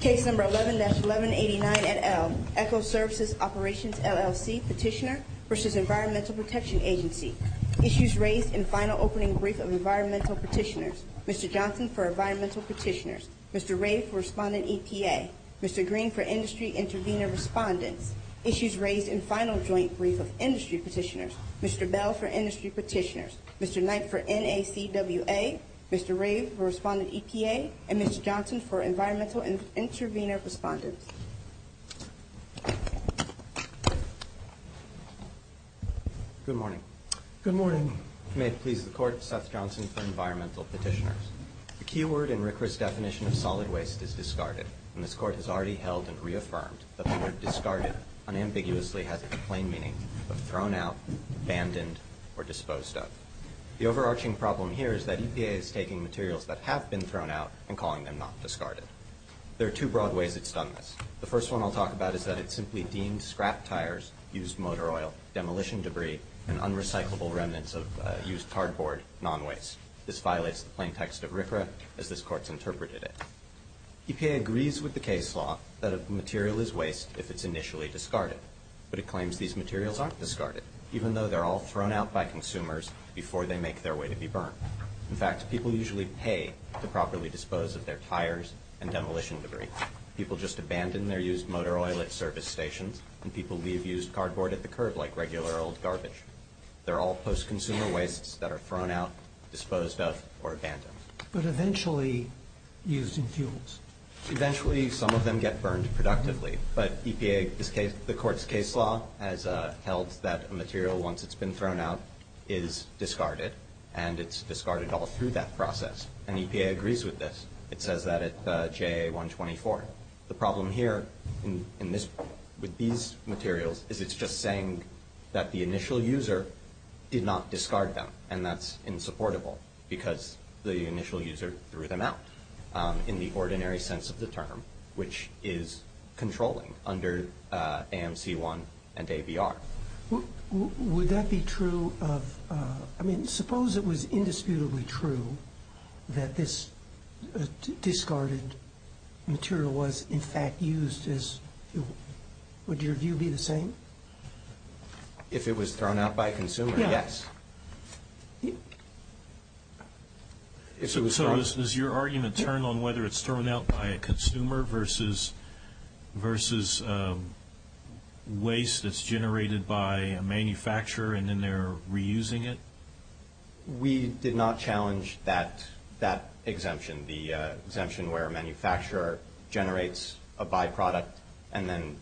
Case number 11-1189 et al. Echo Services Operations LLC Petitioner v. Environmental Protection Agency Issues raised in Final Opening Brief of Environmental Petitioners Mr. Johnson for Environmental Petitioners Mr. Rave for Respondent EPA Mr. Green for Industry Intervenor Respondents Issues raised in Final Joint Brief of Industry Petitioners Mr. Bell for Industry Petitioners Mr. Knight for NACWA Mr. Rave for Respondent EPA and Mr. Johnson for Environmental Intervenor Respondents Good morning Good morning May it please the Court Seth Johnson for Environmental Petitioners The keyword in RCRA's definition of solid waste is discarded and this Court has already held and reaffirmed that the word discarded unambiguously has a plain meaning of thrown out, abandoned, or disposed of The overarching problem here is that EPA is taking materials that have been thrown out and calling them not discarded There are two broad ways it's done this The first one I'll talk about is that it's simply deemed scrap tires, used motor oil, demolition debris, and unrecyclable remnants of used cardboard non-waste This violates the plain text of RCRA as this Court's interpreted it EPA agrees with the case law that a material is waste if it's initially discarded But it claims these materials aren't discarded even though they're all thrown out by consumers before they make their way to be burned In fact, people usually pay to properly dispose of their tires and demolition debris People just abandon their used motor oil at service stations and people leave used cardboard at the curb like regular old garbage They're all post-consumer wastes that are thrown out, disposed of, or abandoned But eventually used in fuels Eventually, some of them get burned productively But the Court's case law has held that a material once it's been thrown out is discarded and it's discarded all through that process and EPA agrees with this It says that at JA 124 The problem here with these materials is it's just saying that the initial user did not discard them and that's insupportable because the initial user threw them out in the ordinary sense of the term which is controlling under AMC 1 and ABR Would that be true of... I mean, suppose it was indisputably true that this discarded material was in fact used as... Would your view be the same? If it was thrown out by a consumer, yes So does your argument turn on whether it's thrown out by a consumer versus waste that's generated by a manufacturer and then they're reusing it? We did not challenge that exemption the exemption where a manufacturer generates a byproduct and then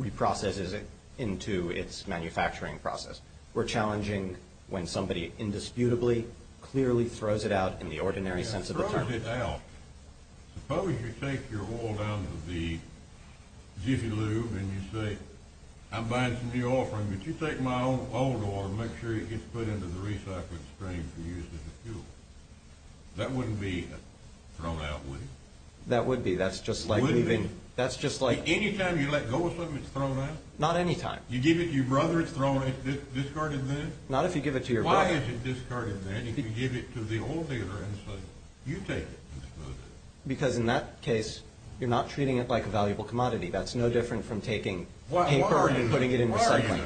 reprocesses it into its manufacturing process We're challenging when somebody indisputably clearly throws it out in the ordinary sense of the term Suppose you take your oil down to the Jiffy Lube and you say, I'm buying some new oil from you Would you take my old oil and make sure it gets put into the recycling stream for use as a fuel? That wouldn't be thrown out, would it? That would be, that's just like... Anytime you let go of something, it's thrown out? Not anytime You give it to your brother, it's discarded then? Not if you give it to your brother Why is it discarded then if you give it to the oil dealer and say, you take it Because in that case you're not treating it like a valuable commodity that's no different from taking paper and putting it in recycling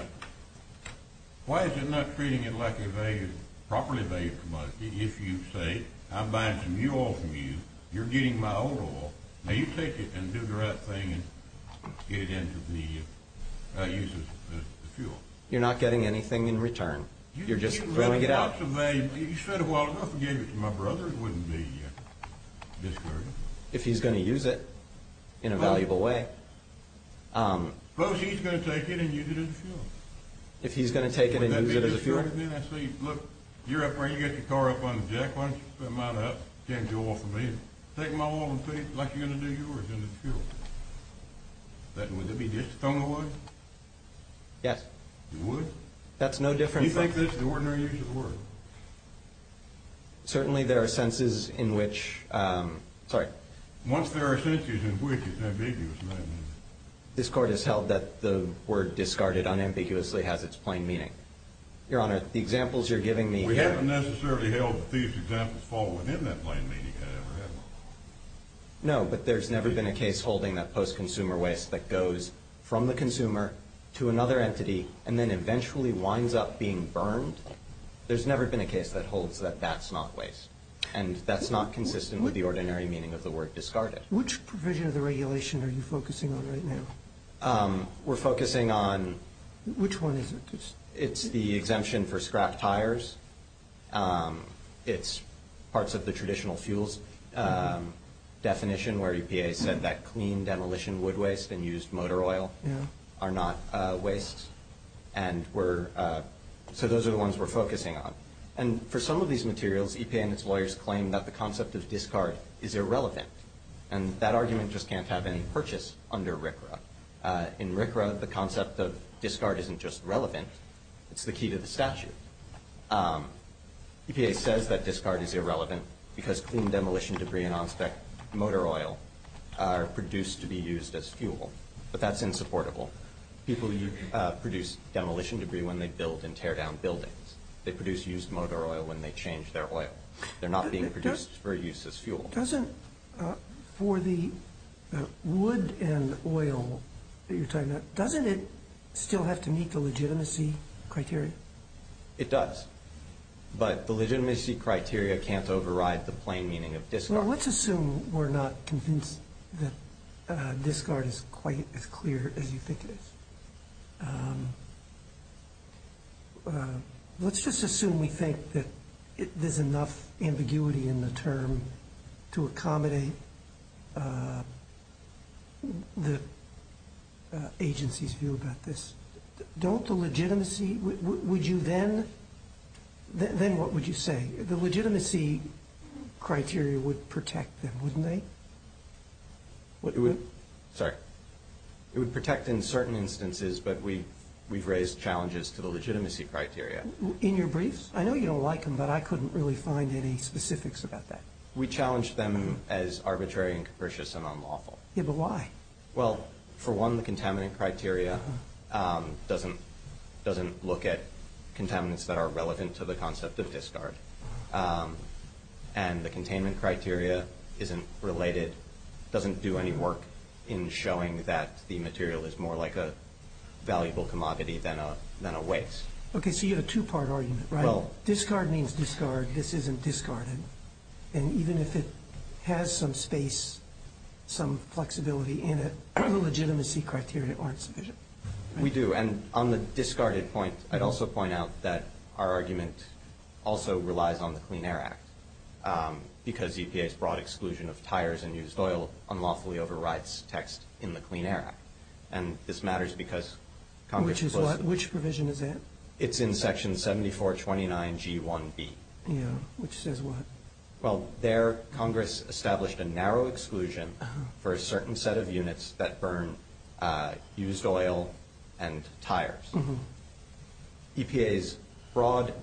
Why is it not treating it like a value properly valued commodity if you say, I'm buying some new oil from you you're getting my old oil now you take it and do the right thing and get it into the use as a fuel You're not getting anything in return You're just throwing it out You said a while ago if you gave it to my brother it wouldn't be discarded If he's going to use it in a valuable way Suppose he's going to take it and use it as a fuel If he's going to take it and use it as a fuel Would that be discarded then? I say, look, you're up there you got your car up on the jack why don't you put mine up you can't do oil for me Take my oil and put it like you're going to do yours into the fuel Would that be discarded then? Yes It would? That's no different from the ordinary use of the word Certainly there are senses in which Sorry Once there are senses in which it's ambiguous in that meaning This court has held that the word discarded unambiguously has its plain meaning Your Honor, the examples you're giving me We haven't necessarily held that these examples fall within that plain meaning however, have we? No, but there's never been a case holding that post-consumer waste that goes from the consumer to another entity and then eventually winds up being burned There's never been a case that holds that that's not waste and that's not consistent with the ordinary meaning of the word discarded Which provision of the regulation are you focusing on right now? We're focusing on Which one is it? It's the exemption for scrap tires It's parts of the traditional fuels definition where EPA said that clean demolition wood waste and used motor oil are not wastes So those are the ones we're focusing on And for some of these materials EPA and its lawyers claim that the concept of discard is irrelevant And that argument just can't have any purchase under RCRA In RCRA, the concept of discard isn't just relevant It's the key to the statute EPA says that discard is irrelevant because clean demolition debris and on spec motor oil are produced to be used as fuel But that's insupportable People produce demolition debris when they build and tear down buildings They produce used motor oil when they change their oil They're not being produced for use as fuel Doesn't for the wood and oil that you're talking about Doesn't it still have to meet the legitimacy criteria? It does But the legitimacy criteria can't override the plain meaning of discard Well, let's assume we're not convinced that discard is quite as clear as you think it is Let's just assume we think that there's enough ambiguity in the term to accommodate the agency's view about this Don't the legitimacy Would you then Then what would you say? The legitimacy criteria would protect them, wouldn't they? Sorry It would protect in certain instances but we've raised challenges to the legitimacy criteria In your briefs? I know you don't like them but I couldn't really find any specifics about that We challenged them as arbitrary and capricious and unlawful Yeah, but why? Well, for one the contaminant criteria doesn't look at contaminants that are relevant to the concept of discard And the containment criteria isn't related doesn't do any work in showing that the material is more like a valuable commodity than a waste Okay, so you have a two-part argument, right? Well Discard means discard This isn't discarded And even if it has some space some flexibility in it the legitimacy criteria aren't sufficient We do And on the discarded point I'd also point out that our argument also relies on the Clean Air Act because EPA's broad exclusion of tires and used oil unlawfully overrides text in the Clean Air Act And this matters because Congress Which provision is that? It's in section 7429G1B Yeah, which says what? Well, there Congress established a narrow exclusion for a certain set of units that burn used oil and tires EPA's broad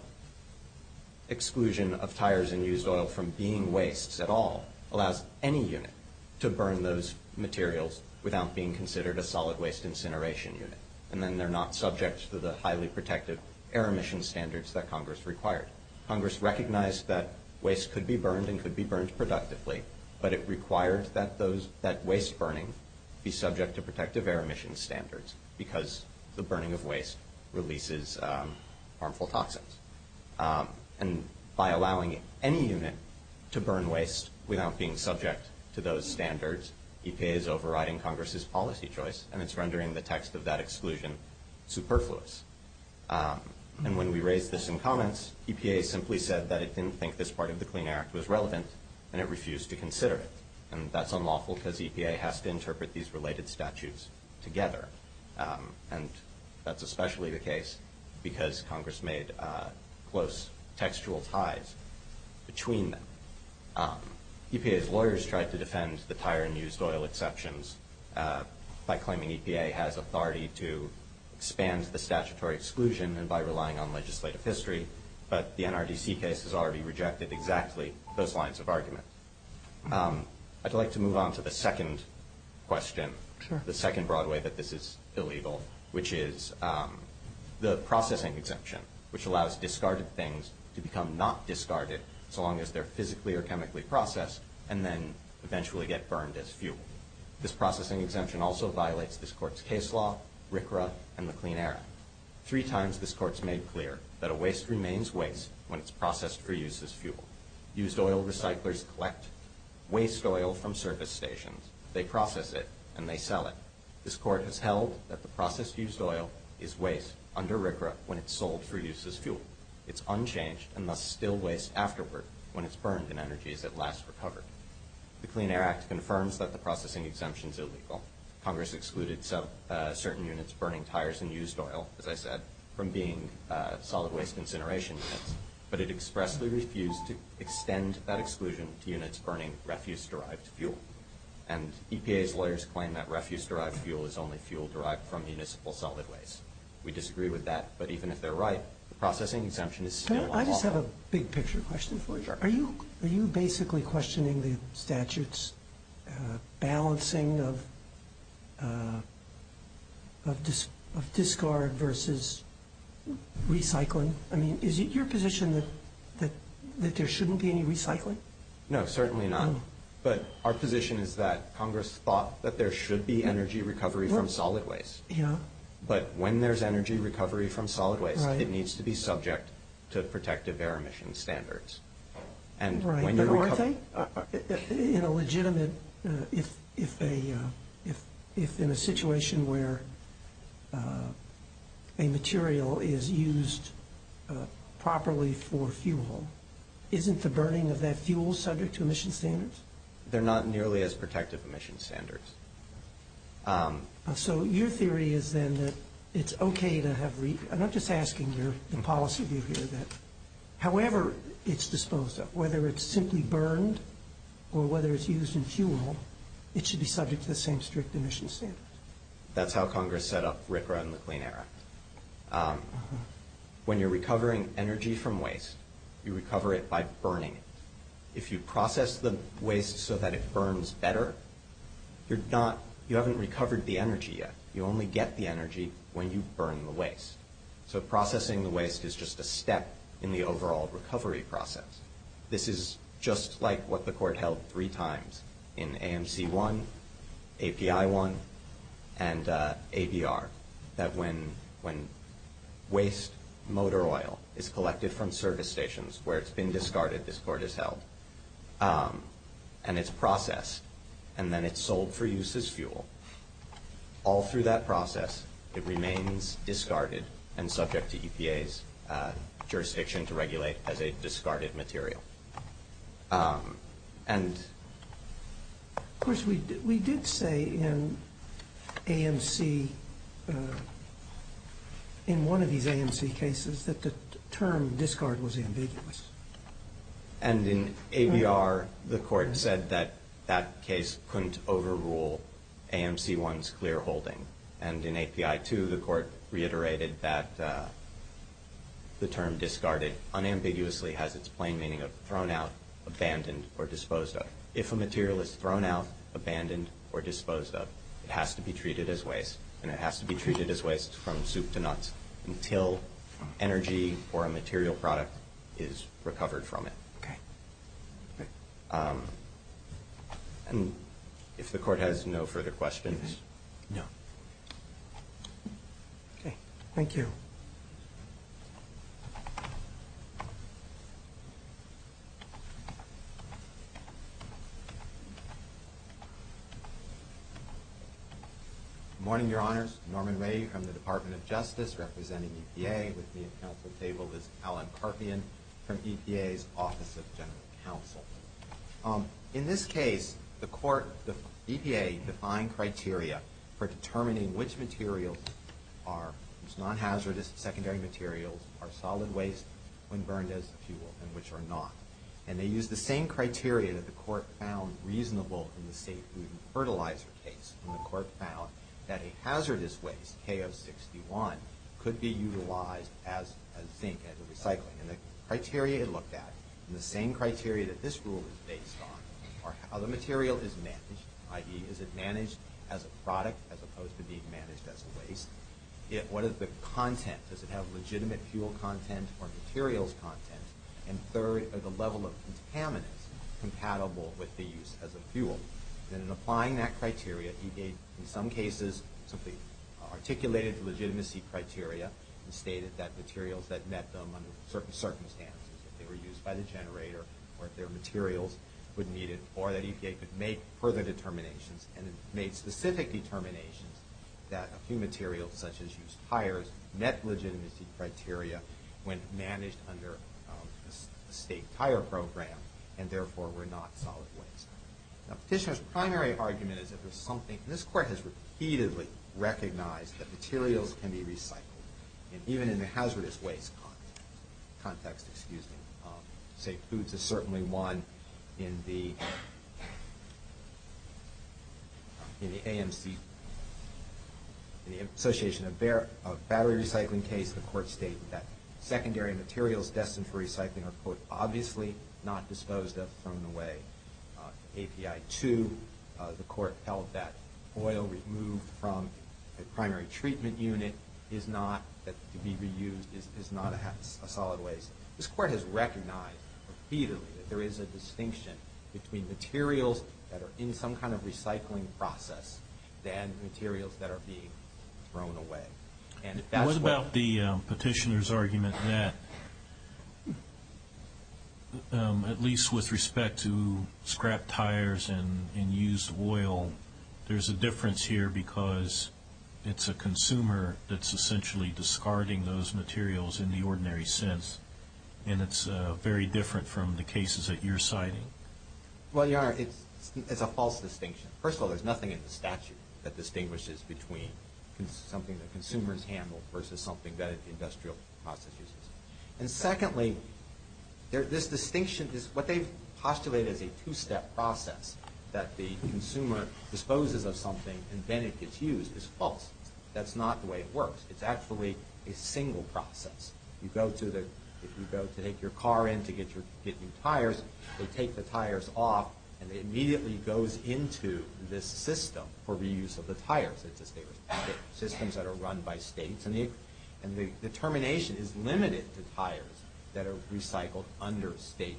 exclusion of tires and used oil from being wastes at all allows any unit to burn those materials without being considered a solid waste incineration unit And then they're not subject to the highly protective air emission standards that Congress required Congress recognized that waste could be burned and could be burned productively but it required that waste burning be subject to protective air emission standards because the burning of waste releases harmful toxins And by allowing any unit to burn waste without being subject to those standards EPA is overriding Congress's policy choice and it's rendering the text of that exclusion superfluous And when we raised this in comments EPA simply said that it didn't think this part of the Clean Air Act was relevant and it refused to consider it And that's unlawful because EPA has to interpret these related statutes together And that's especially the case because Congress made close textual ties between them EPA's lawyers tried to defend the tire and used oil exceptions by claiming EPA has authority to expand the statutory exclusion and by relying on legislative history But the NRDC case has already rejected exactly those lines of argument I'd like to move on to the second question The second broad way that this is illegal which is the processing exemption which allows discarded things to become not discarded so long as they're physically or chemically processed and then eventually get burned as fuel This processing exemption also violates this court's case law RCRA and the Clean Air Act Three times this court has made clear that a waste remains waste when it's processed for use as fuel Used oil recyclers collect waste oil from service stations They process it and they sell it This court has held that the processed used oil is waste under RCRA when it's sold for use as fuel It's unchanged and must still waste afterward when it's burned in energy as it lasts recovered The Clean Air Act confirms that the processing exemption is illegal Congress excluded certain units burning tires and used oil as I said from being solid waste incineration units But it expressly refused to extend that exclusion to units burning refuse-derived fuel And EPA's lawyers claim that refuse-derived fuel is only fuel derived from municipal solid waste We disagree with that But even if they're right the processing exemption is still unlawful Can I just have a big picture question for you? Sure Are you basically questioning the statute's balancing of discard versus recycling? I mean is it your position that there shouldn't be any recycling? No, certainly not But our position is that Congress thought that there should be energy recovery from solid waste Yeah But when there's energy recovery from solid waste it needs to be subject to protective air emission standards Right And when you're recovering In a legitimate if in a situation where a material is used properly for fuel isn't the burning of that fuel subject to emission standards? They're not nearly as protective emission standards So your theory is then that it's okay to have I'm not just asking your policy view here that however it's disposed of whether it's simply burned or whether it's used in fuel it should be subject to the same strict emission standards That's how Congress set up RCRA and the Clean Air Act When you're recovering energy from waste you recover it by burning it If you process the waste so that it burns better you're not you haven't recovered the energy yet You only get the energy when you burn the waste So processing the waste is just a step in the overall recovery process This is just like what the court held three times in AMC 1 API 1 and ABR that when when waste motor oil is collected from service stations where it's been discarded, this court has held and it's processed and then it's sold for use as fuel All through that process it remains discarded and subject to EPA's jurisdiction to regulate as a discarded material And Of course we did say in AMC in one of these AMC cases that the term discard was ambiguous And in ABR the court said that that case couldn't overrule AMC 1's clear holding And in API 2 the court reiterated that the term discarded unambiguously has its plain meaning of thrown out abandoned or disposed of If a material is thrown out abandoned or disposed of it has to be treated as waste and it has to be treated as waste from soup to nuts until energy or a material product is disposed of And if the court has no further questions No Okay Thank you Good morning your honors Norman Ray representing EPA with me at council table is Alan Karpian from EPA's Office of Justice Good morning your honors Norman Ray from the Department of Justice and the Department of Justice General Council In this case the EPA defined criteria for determining which materials are non-hazardous secondary materials are solid waste when burned as a fuel and which are not and they use the same criteria that the court found reasonable in the safe food and fertilizer case when the court found that a hazardous waste could be of the level of contaminants compatible with the use as a fuel. In applying that criteria EPA in some cases articulated the legitimacy criteria and stated that materials that met them under certain criteria were not solid waste. Now, petitioner's primary argument is that this court has repeatedly recognized that materials can be recycled even in a hazardous waste context. Safe foods is certainly one in the AMC case. In the association of battery recycling case, the court stated that secondary materials destined for recycling are obviously not disposed of from the way API 2. The court has repeatedly recognized that materials that are in some kind of recycling process than materials that are being thrown away. And that's why the petitioner is arguing that at least with respect to scrap tires and used oil, there's a difference here because it's a consumer essentially discarding those materials in the ordinary sense. And it's very different from the cases that you're citing. And has repeatedly argued that it's a false distinction. First of all, there's nothing in the statute that distinguishes between something that consumers handle versus something that industrial process uses. And secondly, this distinction, what they postulate as a two-step process that the consumer disposes of something and then it gets used is false. That's not the way it works. It's actually a single process. If you go to take your car in to get new tires, they take the tires off and it immediately goes into this system for reuse of the tires. Systems that are run by states. And the termination is limited to tires that are recycled under state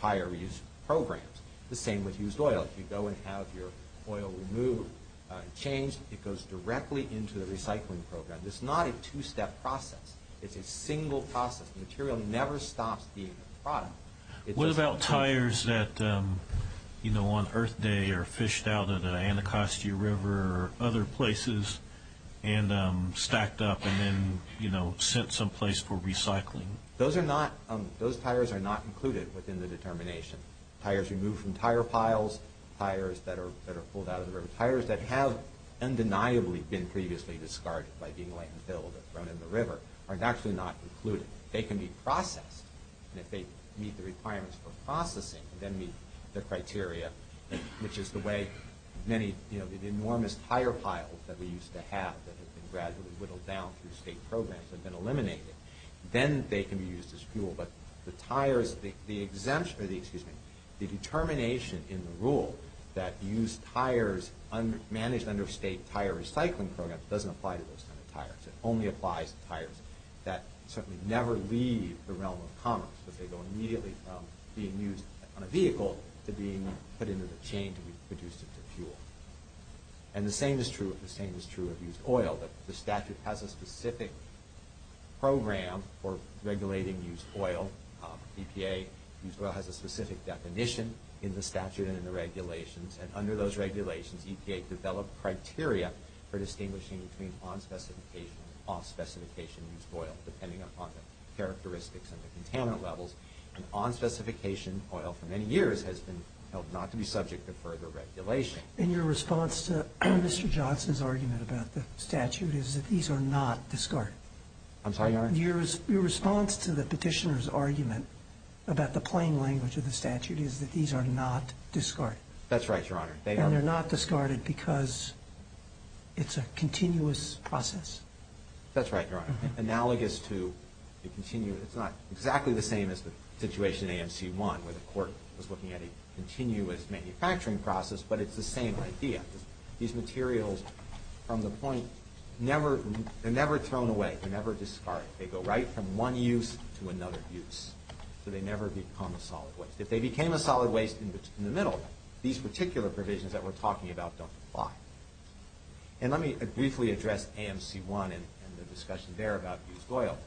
tire reuse programs. The same with used oil. If you go and have your oil removed and changed, it goes directly into the recycling program. It's not a two-step process. It's a single process. The material never stops being a product. What about tires that on Earth Day are fished out of the Anacostia River or other places and stacked up and sent some place for recycling? Those tires are not included within the determination. Tires removed from tire piles, tires that are pulled out of the river, tires that have undeniably been previously discarded by being thrown in the river are not included. They can be processed. If they meet the requirements for processing and meet the criteria, which is the way the enormous tire piles that we used to have that have been removed Anacostia River, the determination in the rule that used tires managed under state tire recycling program doesn't apply to those kind of tires. It only applies to tires that certainly never leave the realm of commerce. They go immediately from being used on a vehicle to being put into the chain to be produced into fuel. The same is true of used oil. The statute has a specific program for regulating used oil. EPA has a specific definition in the statute and in the regulations and under those regulations EPA developed criteria for distinguishing between used and non-used oil. It is not subject to further regulation. Your response to Mr. Johnson's argument is that these are not discarded. Your response to the petitioner's argument is that these are not discarded. It is not exactly the same as the situation in AMC 1 where the court was looking at a continuous manufacturing process, but it is the same idea. These materials from the point, never thrown away, never discarded. They go right from the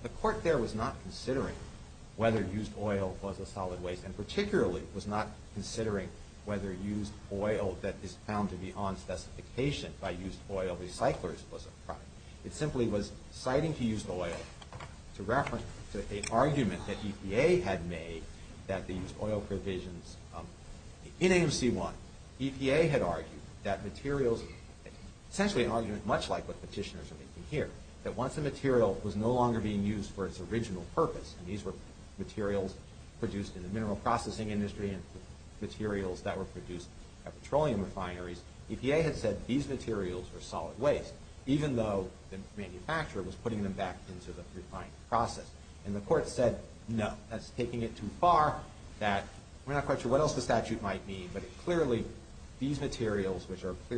The petitioner was not considering whether used oil was a solid waste and particularly was not considering whether used oil that is found to be on specification by used oil recyclers was a product. It simply was citing to refer to an argument that EPA had made that these oil provisions in AMC 1 EPA had argued that materials essentially an argument much like what petitioners are making here that once a material was no longer being used for its original purpose and these were materials produced in the mineral processing industry and materials that were produced at petroleum refineries EPA had said these materials are solid waste even though the manufacturer was putting them back into the process. And the court said no. That's taking it too far that we're not quite sure what else the statute might mean but clearly these are being used for petroleum refineries. Thank you. Mr. Green? Good morning. I'm Douglas Green, council for industry interveners on behalf of EPA. The petitioner's argument is flawed because as I think it basically doesn't consider and is directly at odds with one of the objectives which is avoiding the needless land disposal of waste which can otherwise be used for energy value. Now as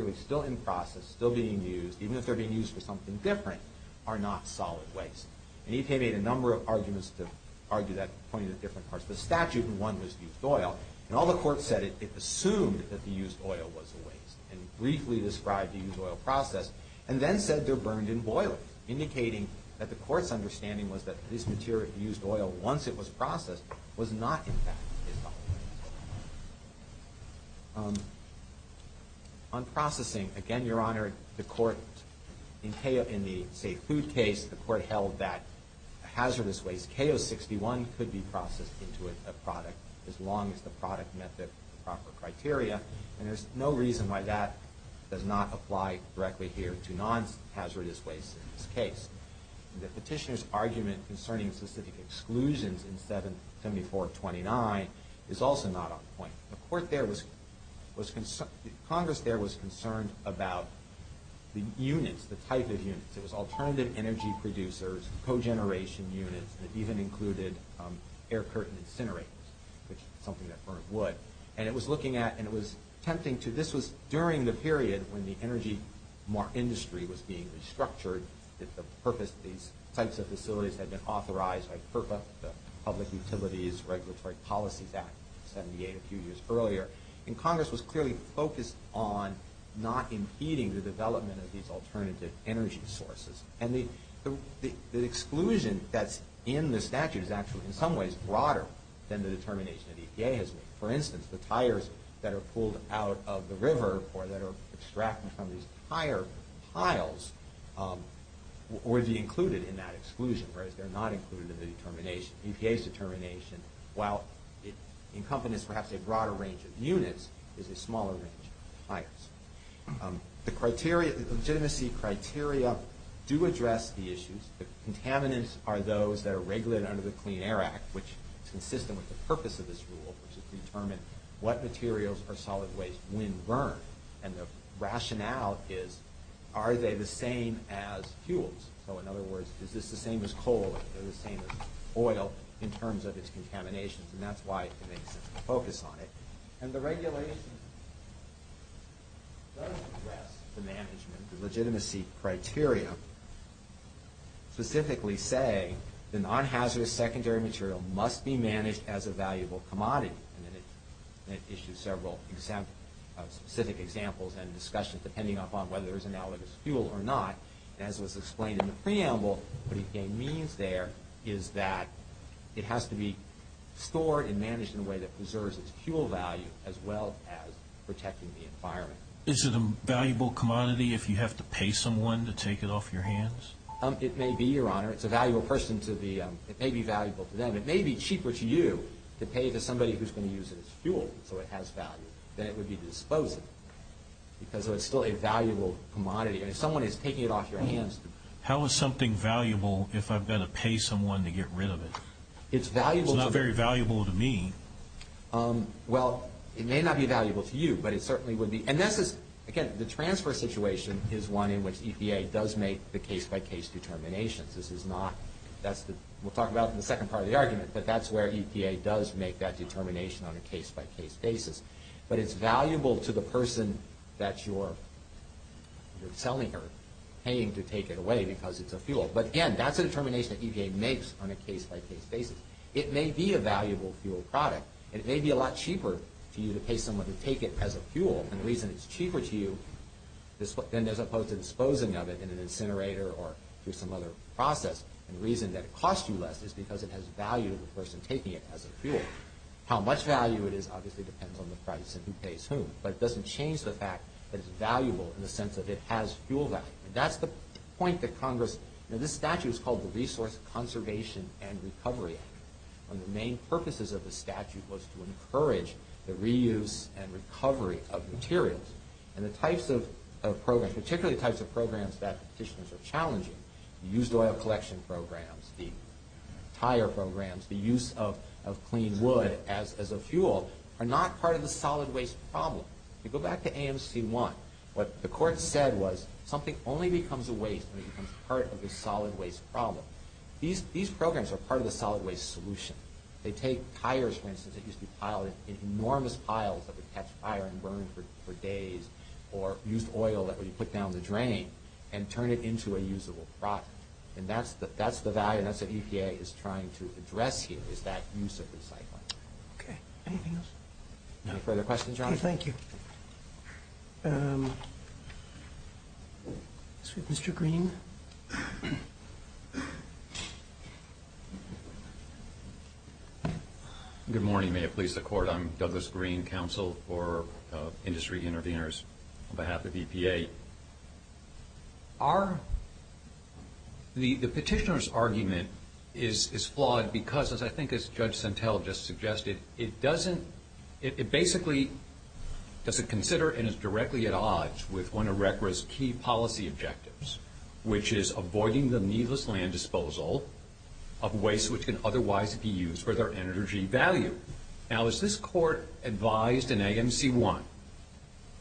this court advised in AMC 1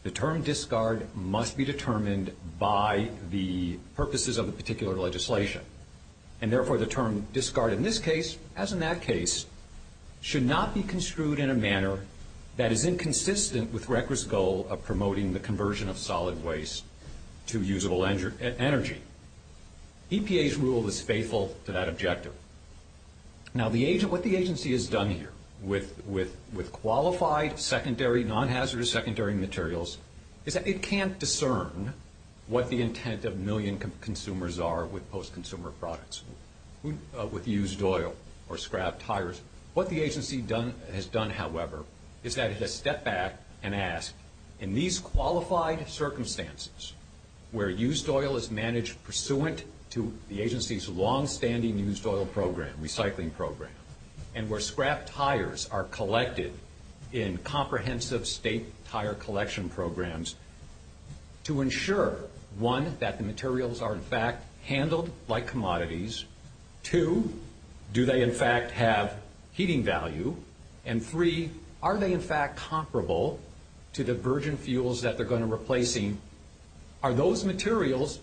the term discard must be determined by the purposes of the particular legislation and therefore the term discard in this case as in that case should not be construed in a manner that is inconsistent with the goal of promoting the conversion of solid waste to usable energy. EPA's rule is faithful to that objective. Now what the agency has done here with qualified secondary materials is that it can't discern what the intent of million consumers are with post-consumer products with used oil or scrap tires. What the agency has done however is that it has stepped back and asked in these qualified secondary materials to ensure one, that the materials are in fact handled like commodities, two, do they in fact have heating value, and three, are they in fact comparable to the virgin fuels that they are going to use. So if secondary materials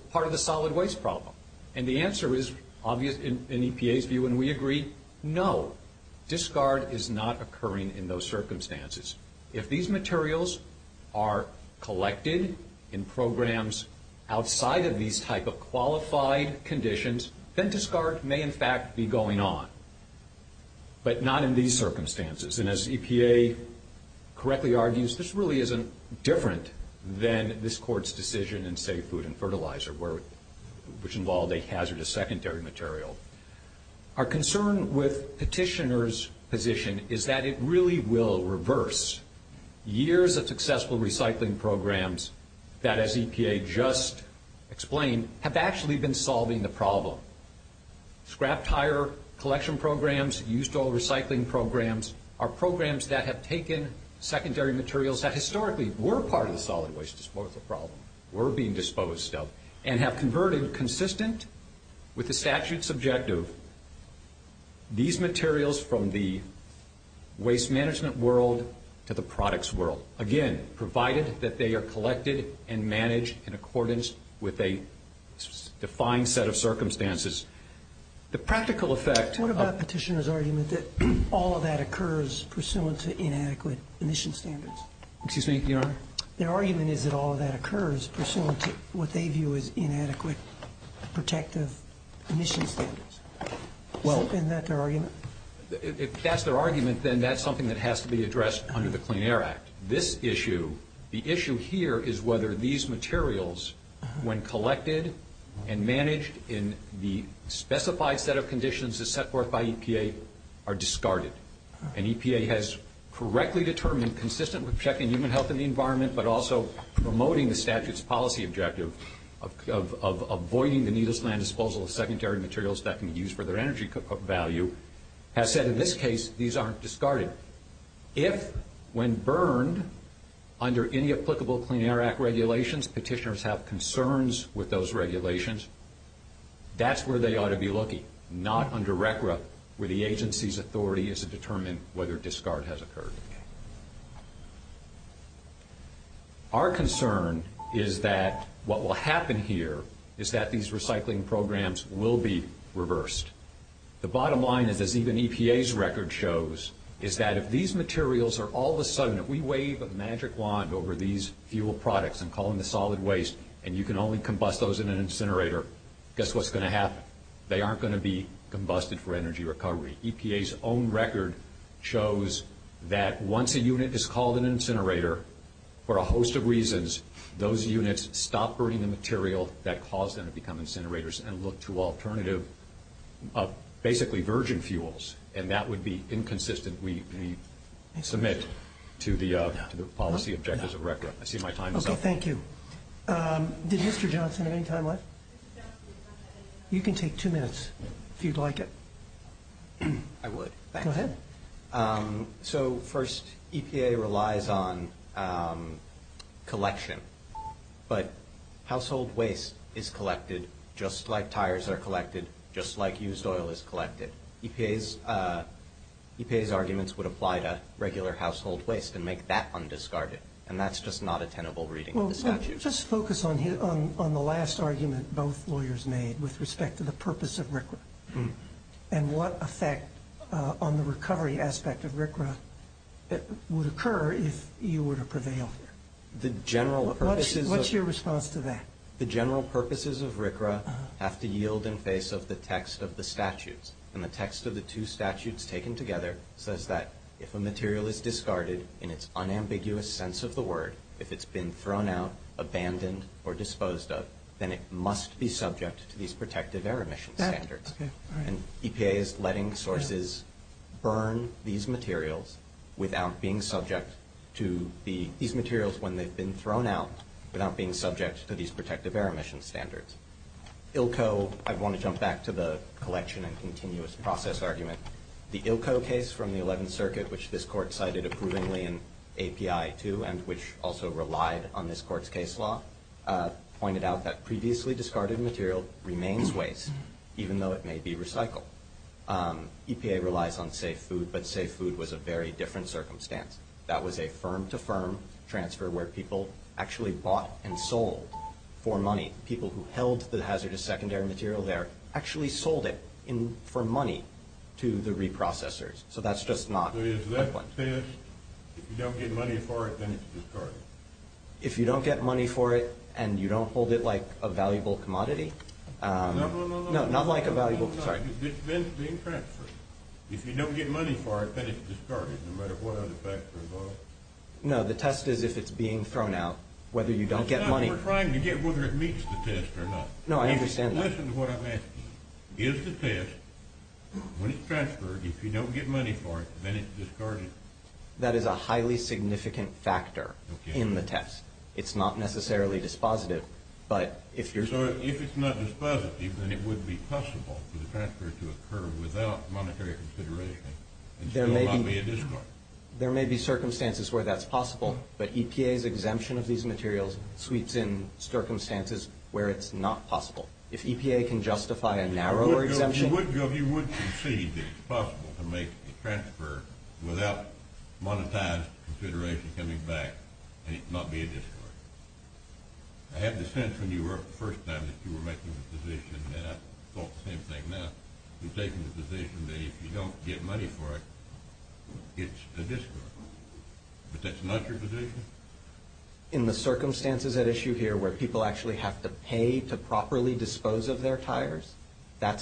are collected in programs outside of these type of qualified conditions, then discard may in fact be going on, but not in these circumstances. And as EPA correctly argues, this really isn't different than this Court's decision in safe food and fertilizer, which involved a hazardous secondary material. Our concern with petitioner's position is that it really will reverse years of successful recycling programs that, as EPA just explained, have actually been solving the problem. Scrap tire collection programs, used oil recycling programs, are programs that have taken secondary materials that historically were part of the solid waste disposal problem, were being disposed of, and have been collected and managed in accordance with a defined set of circumstances. The practical effect... What about petitioner's argument that all of that occurs pursuant to inadequate emission standards? Excuse me, Your Honor? Their argument is that all of that occurs pursuant to what they view as inadequate protective emission standards. Isn't that their argument? If that's their argument, then that's something that has to be addressed under the Clean Air Act. This issue, the issue here, is whether these materials, when collected and managed in the specified set of conditions set forth by EPA, are discarded. And EPA has correctly determined, consistent with checking human health and the environment, but also promoting the statute's policy objective of avoiding the needless land disposal of secondary materials that can be used for their energy value, has said in this case these aren't discarded. If, when burned under any applicable Clean Air Act regulations, petitioners have concerns with those regulations, that's where they ought to be looking, not under RCRA, where the agency's authority is to determine whether discard has occurred. Our concern is that what will happen here is that these recycling programs will be reversed. The bottom line is, as even EPA's record shows, is that if these materials are all of a sudden, if we wave a magic wand over these fuel products and call them the solid waste and you can only combust those in an incinerator, guess what's going to happen? They aren't going to be combusted for energy recovery. EPA's own record shows that once a unit is called an incinerator, for a host of reasons, those units stop burning the material that caused them to become incinerators and look to alternative methods of basically virgin fuels and that would be inconsistent when we submit to the policy objectives of record. I see my time is up. Okay, thank you. Did Mr. Johnson have any time left? You can take two minutes if you'd like it. I would. Go ahead. So first, EPA relies on collection, but household waste is collected just like tires are collected, just like used oil is collected. EPA's arguments would apply to regular household waste and make that undiscarded. And that's just not a tenable reading of the statute. Well, just focus on the last argument both lawyers made with respect to the purpose of RCRA. And what effect on the recovery aspect of RCRA would occur if you were to prevail? What's your response to that? The general purposes of RCRA have to yield in face of the text of the statutes. And the text of the two statutes taken together says that if a material is discarded in its unambiguous sense of the word, if it's been thrown out, abandoned, or disposed of, then it must be subject to these protective air emission standards. And EPA is letting sources burn these materials without being subject to these protective air emission standards. ILCO, I want to jump back to the collection and continuous process argument. The ILCO case from the 11th circuit, which this court cited approvingly in API 2 and which also relied on this court's case law, pointed out that previously discarded material remains waste, even though it may be recycled. EPA relies on safe food, but safe food was a very different circumstance. That was a firm-to-firm transfer where people actually bought and sold for money. People who held the hazardous secondary material there actually sold it for money to the reprocessors. So that's just not the point. If you don't get money for it, then it's discarded. If you don't get money for it and you don't hold it like a valuable commodity? No, not like a valuable commodity. It's being transferred. If you don't get money for it, then it's discarded. No matter what other factors are involved? No, the test is if it's being thrown out, whether you don't get money. We're trying to get whether it meets the test or not. No, I understand that. Listen to what I'm asking. Is the test, when it's transferred, if it's thrown out, is a highly significant factor in the test? It's not necessarily dispositive. So if it's not dispositive, then it would be possible for the transfer to occur without monetary consideration and still not be a discard? There may be circumstances where that's possible, but that's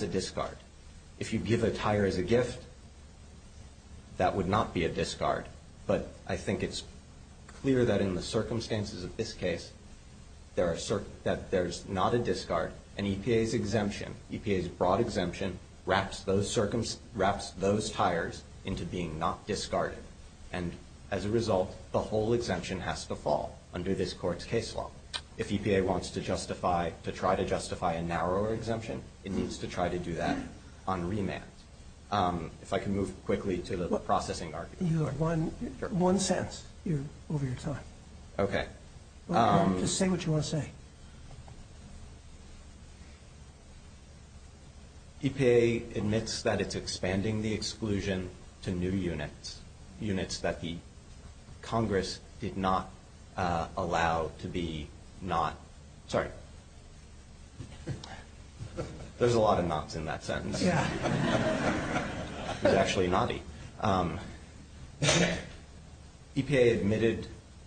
a discard. If you give a tire as as a gift, that would not be a discard. So if you give a tire as a gift, that would not be a discard. I think it's clear that in the circumstances of this case, that there's not a discard, and EPA's broad exemption wraps those tires into being not discarded. As a result, the whole exemption has to fall under this court's case law. If EPA wants to try to expand the exclusion to new units, EPA admits that it's expanding the exclusion to new units, units that the Congress did not allow to be not... Sorry. There's a lot of nots in that sentence. It was actually knotty. EPA admitted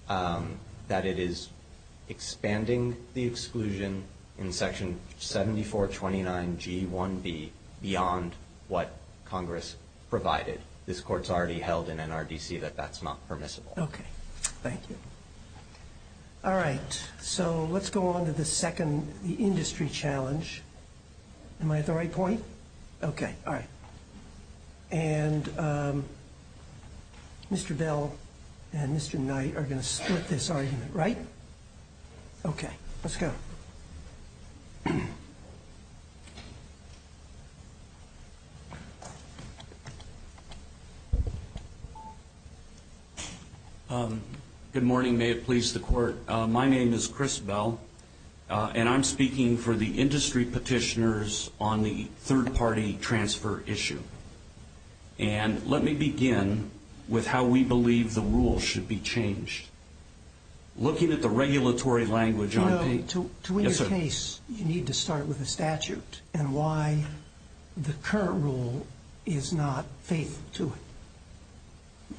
that it is expanding the exclusion in section 7429G1B beyond what Congress provided. This court's already held in NRDC that that's not permissible. Okay. Thank you. All right. So let's go on to the second industry challenge. Am I at the right point? Okay. All right. And Mr. Bell and Mr. Knight are going to split this argument, right? Okay. Let's go. Good morning. May it please the court. My name is Chris Bell and I'm speaking for the industry petitioners on the third-party transfer issue. And let me begin with how we believe the rule should be changed. Looking at the regulatory language. To win your case, you need to start with a statute and why the current rule is not faithful to it.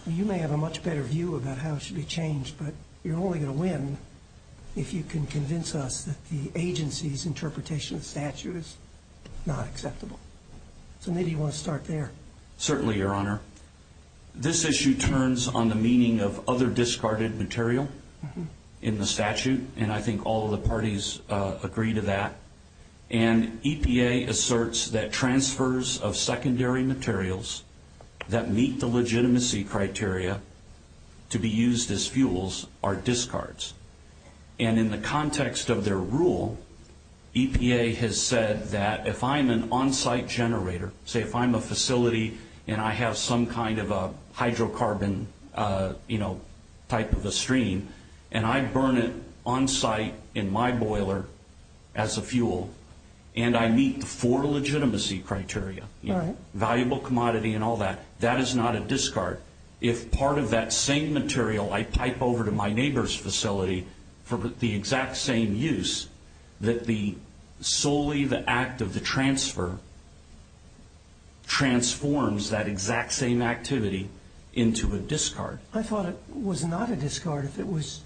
You may have a much better view about how it should be changed, but you're only going to win if you can convince us that the agency's interpretation of the statute is not acceptable. So maybe you want to start there. Certainly, your honor. This issue turns on the meaning of other issues. to understand that some of the things that are required to be used as fuels are discards. And in the context of their rule, EPA has said that if I'm an onsite generator, say if I'm a facility and I have some kind of a hydrocarbon type of a stream, and I burn it onsite in my boiler as a fuel, and I meet the four legitimacy criteria, valuable commodity and all that, that is not a discard. If part of that same material I pipe over to my neighbor's facility for the exact same use, that the solely the act of the transfer transforms that exact same activity into a discard. I thought it was not a discard if it was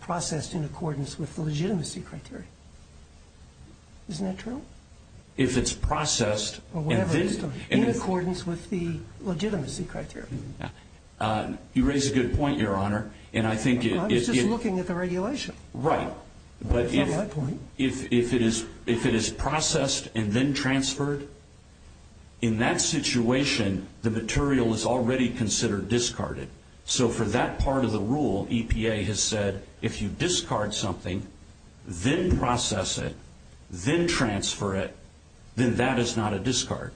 processed in accordance with the legitimacy criteria. Isn't that true? If it's processed in accordance with the legitimacy criteria. You raise a good point, your honor. I was just looking at the regulation. Right. But if it is processed and then transferred, in that situation, the material is already considered discarded. So for that part of the rule, EPA has said, if you discard something, then process it, then transfer it, then that is not a discard.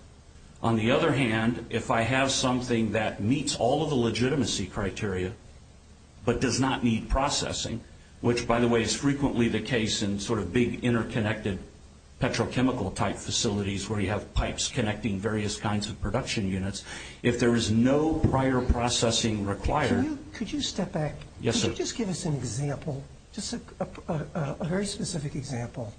On the other hand, if I have something that meets all of the legitimacy criteria but does not need processing, which, by the way, is frequently the case in sort of big interconnected petrochemical type facilities where you have pipes connecting various kinds of production units, if there is no processing required... Could you step back? Yes, sir. Could you just give us an example, just a very specific example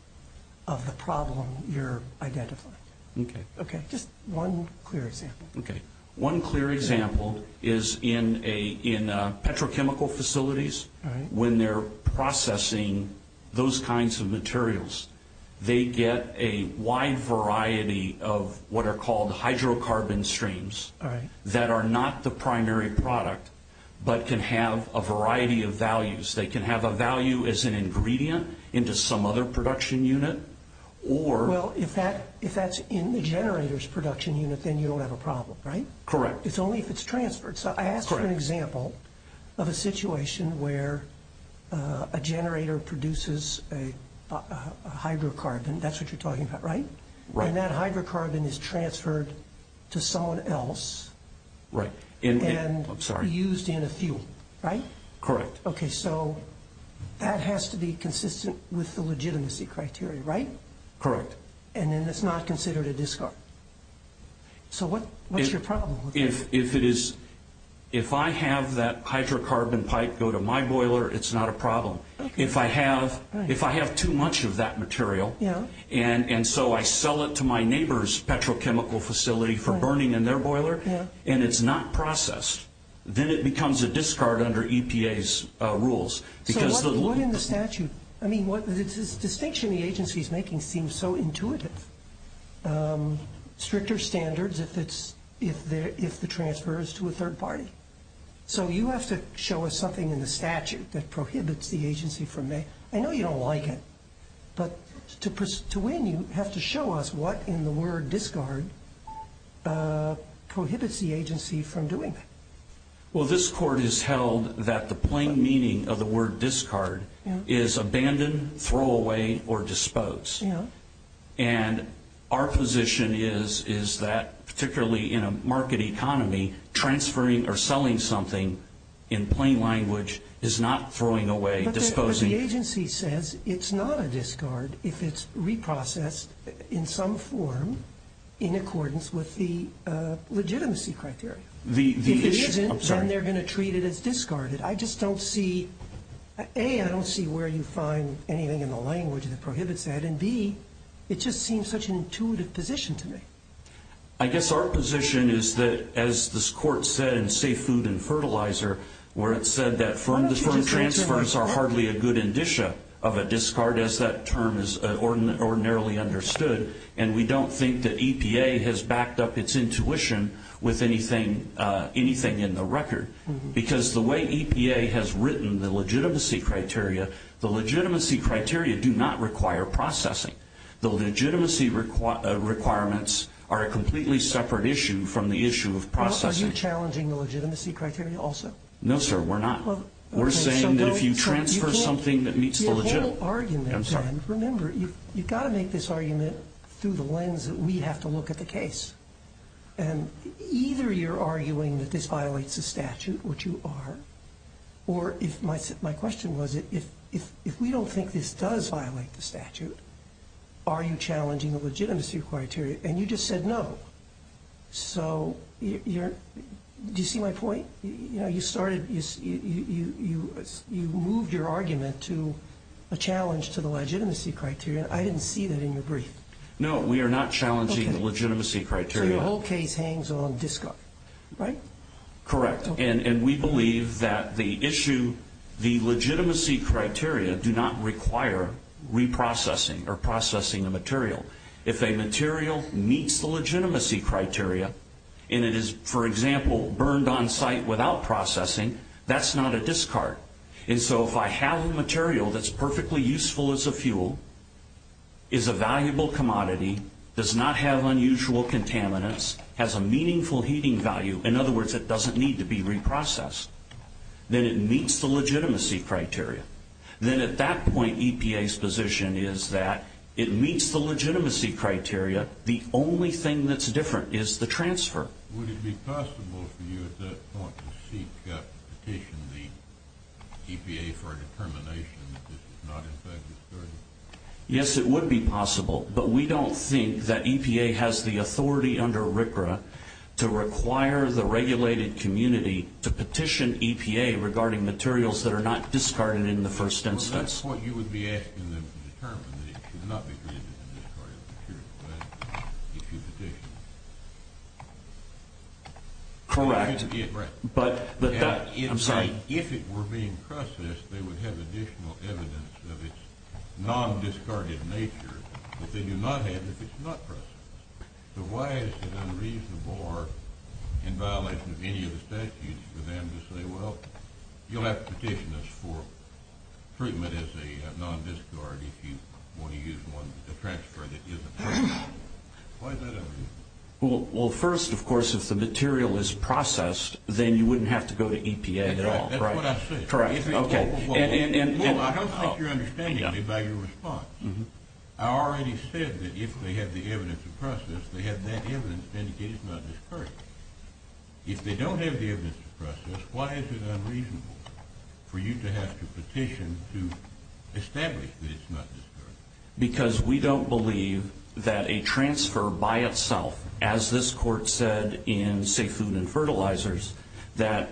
of the problem you're identifying? Okay. Okay. Just one clear example. Okay. One clear example is in a petrochemical facility, when they're processing those kinds of materials, they get a wide variety of what are called hydrocarbon streams that are not the primary product but can have a variety of values. They can have a value as an ingredient into some other production unit or... Well, if that's in the generator's then it won't have a problem, right? Correct. It's only if it's transferred. So I asked for an example of a situation where a generator produces a hydrocarbon, that's what you're talking about, right? Right. And that hydrocarbon is transferred to someone else and used in a fuel, right? Correct. Okay, so that has to be consistent with the legitimacy criteria, right? Correct. And then it's not considered a discard. So what's your problem with that? If I have that hydrocarbon pipe go to my boiler, it's not a problem. If I have too much of that material and so I sell it to my neighbor's don't think that's a problem with the EPA's rules. So what in the statute, I mean, the distinction the agency is making seems so intuitive. Stricter standards if the transfer is to a third party. So you have to show us something in the statute that says the plain meaning of the word discard is abandon, throw away or dispose. And our position is that particularly in a market economy transferring or selling something in plain language is not throwing away, disposing. But the agency says it's not a discard if it's reprocessed in some form in accordance with the legitimacy criteria. If it isn't, then they're going to treat it as discarded. A, I don't see where you find anything in the language that prohibits that. And B, it just seems such an intuitive position to me. I guess our position is that as this court said in Safe Food and Fertilizer where it said that firm transfers are hardly a good indicia of a discard as that term is ordinarily understood. And we don't think that EPA has backed up its intuition with anything in the record. Because the way EPA has written the legitimacy criteria, the legitimacy criteria do not require processing. The legitimacy requirements are a completely separate issue from the issue of processing. Are you challenging the legitimacy criteria also? No, sir, we're not. We're saying that if you transfer something that meets the legitimacy criteria, we're not. You've got to make this argument through the lens that we have to look at the case. Either you're arguing that this violates the statute, which you are. Or my question was if we don't think this does violate the statute, are you challenging the legitimacy criteria? And you just said no. Do you see my point? You moved your argument to a challenge to the legitimacy criteria. I didn't see that in your brief. No, we are not challenging the legitimacy criteria. So your whole case hangs on discard, right? Correct. And we believe that legitimacy criteria do not require reprocessing or processing the material. If a material meets the legitimacy criteria and it is, for example, burned on site without processing, that's not a discard. And so if I have a material that's perfectly useful as a fuel, is a valuable commodity, does not have unusual contaminants, has a meaningful heating value, in other words it doesn't need to be reprocessed, then it meets the legitimacy criteria. Then at that point EPA's position is that it meets the legitimacy criteria. The only thing that's different is the transfer. Would it be possible for you at that point to seek, petition the EPA for a determination that this is not in fact a discard? Yes, it would be possible, but we don't think that EPA has the authority under RCRA to require the regulated community to petition EPA regarding materials that are not discarded in the first instance. Well, at that point you would be asking them to determine that it should not be treated as a discarded material. Correct. If it were being processed they would have additional evidence of its non- discarded nature that they do not have if it's not processed. So why is it unreasonable or in violation of any of the statutes for them to say, well, you'll have to petition us for treatment as a non- discard if you want to use a transfer that isn't processed? Well, first, of course, if the material is processed then you wouldn't have to go to EPA at all. That's what I said. Correct. Well, I don't think you're understanding me by your response. I already said that if they have the evidence of process they have that evidence to indicate it's not discarded. If they don't have the evidence of process, why is it unreasonable for you to have to petition to establish that it's not discarded? Because we don't believe that a transfer by itself, as this court said in Safe Food and Fertilizers that,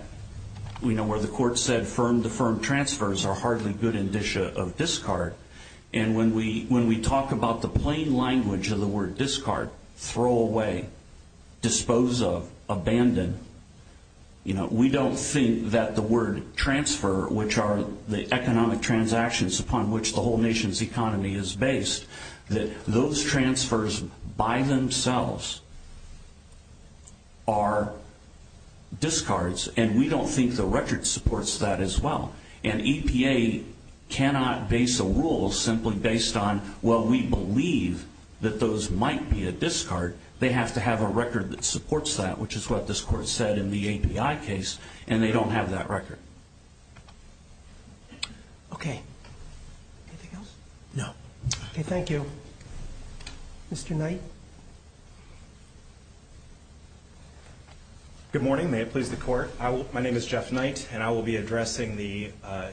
you know, where the court said firm-to-firm transfers are hardly good indicia of discard, and when we talk about the plain language of the word discard, throw away, dispose of, abandon, you know, we don't think that the word transfer, which are the economic transactions upon which the whole nation's economy is based, that those transfers by themselves are discards, and we don't think the record supports that as well. And EPA cannot base a rule simply based on, well, we believe that those might be a discard. They have to have a record that supports that, which is what this is. believe that that is the record. Okay. Anything else? No. Okay. Thank you. Mr. Knight? Good morning. May it please the court. My name is Jeff Knight, and I will be addressing the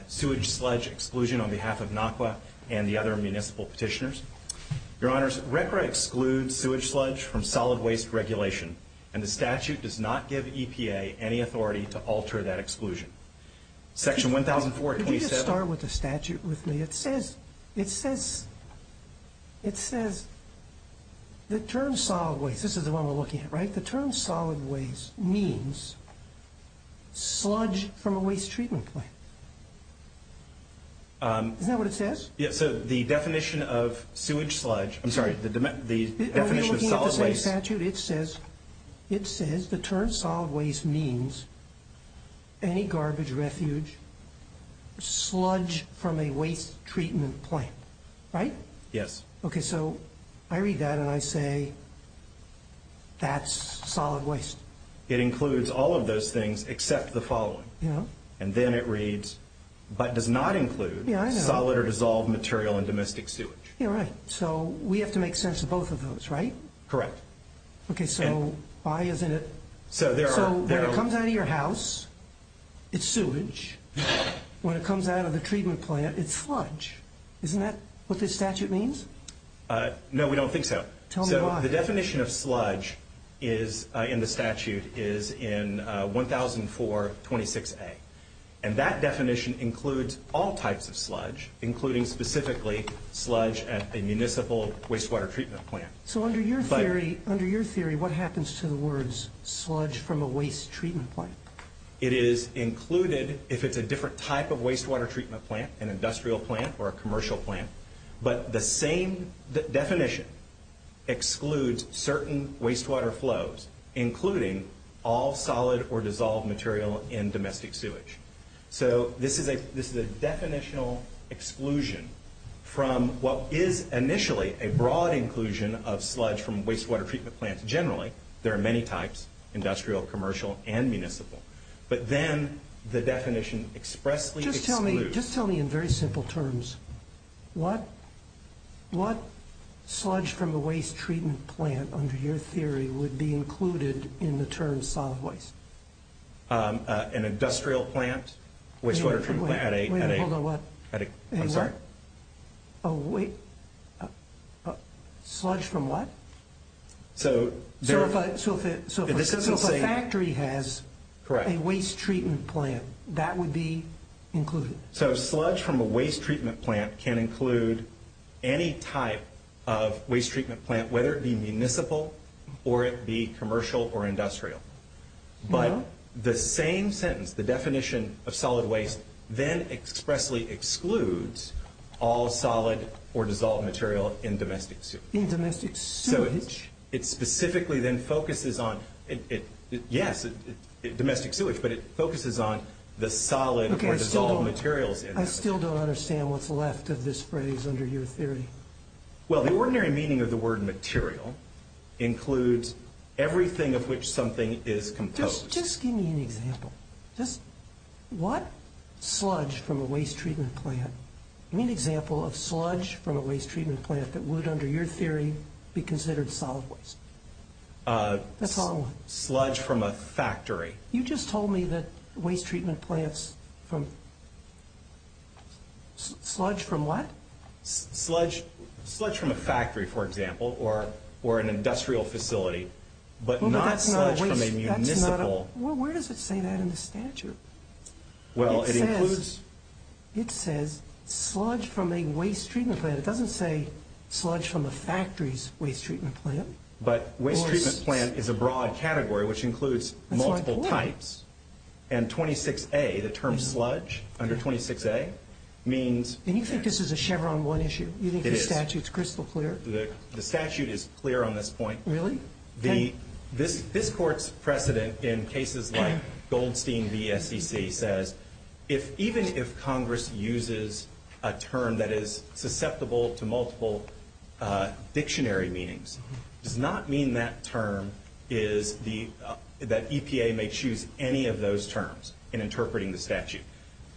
sewage sludge exclusion on behalf of NAWQA and the other agencies. I'm going to start with a statute with me. It says the term solid waste means sludge from a waste treatment plant. Is that what it says? The definition of sewage sludge, I'm sorry, the definition of solid waste. It says the term solid waste means any garbage refuge sludge from a waste treatment plant. Right? Yes. Okay. So I read that and I say that's solid waste. It includes all of those things except the following. And then it reads but does not include solid or dissolved material and domestic sewage. All right. So we have to make sense of both of those, right? Correct. So when it comes out of your house, it's sewage. When it comes out of the treatment plant, it's sludge. Isn't that what this statute means? No, we don't think so. Okay. Tell me why. So the definition of sludge in the statute is in 1004-26A. And that definition includes all types of sludge, including specifically sludge at a municipal wastewater treatment plant. So under your theory, what happens to the words sludge from a waste treatment plant? It is the definition that excludes certain wastewater flows, including all solid or dissolved material in domestic sewage. So this is a definitional exclusion from what is initially a broad inclusion of sludge from wastewater treatment plants generally. There are many types, industrial, commercial and municipal. But then the definition expressly excludes. Just tell me in very simple terms what sludge from a waste treatment plant under your theory would be included in the terms solid waste? An industrial plant, wastewater treatment plant. I'm sorry? A sludge from what? A waste treatment plant. So if a factory has a waste treatment plant, that would be included? So sludge from a waste treatment plant can include any type of waste treatment plant, whether it be municipal or it be commercial or industrial. But the same sentence, the definition of solid waste treatment plant, it specifically then focuses on, yes, domestic sewage, but it focuses on the solid or dissolved materials. I still don't understand what's left of this phrase under your theory. Well, the ordinary meaning of the word material includes everything of which something is composed. Just give me an example. What sludge from a waste treatment plant? Give me an example of sludge from a waste treatment plant that would, under your theory, be considered solid waste? Sludge from a factory. You just told me that waste treatment plants from, sludge from what? Sludge from a factory, for example, or an industrial facility, but not sludge from a municipal. Well, where does it say that in the statute? Well, it includes, it says, sludge from a waste treatment plant. It doesn't say sludge from a factory's waste treatment plant. But waste treatment plant is a broad category which includes multiple types and 26A, the term sludge, under 26A, means... And you think this is a Chevron 1 issue? It is. You think the statute is crystal clear? The statute is clear on this point. Really? This Court's precedent in cases like Goldstein v. SEC says even if Congress uses a term that is susceptible to multiple dictionary meanings, does not mean that term is the, that EPA may choose any of those terms in interpreting the statute.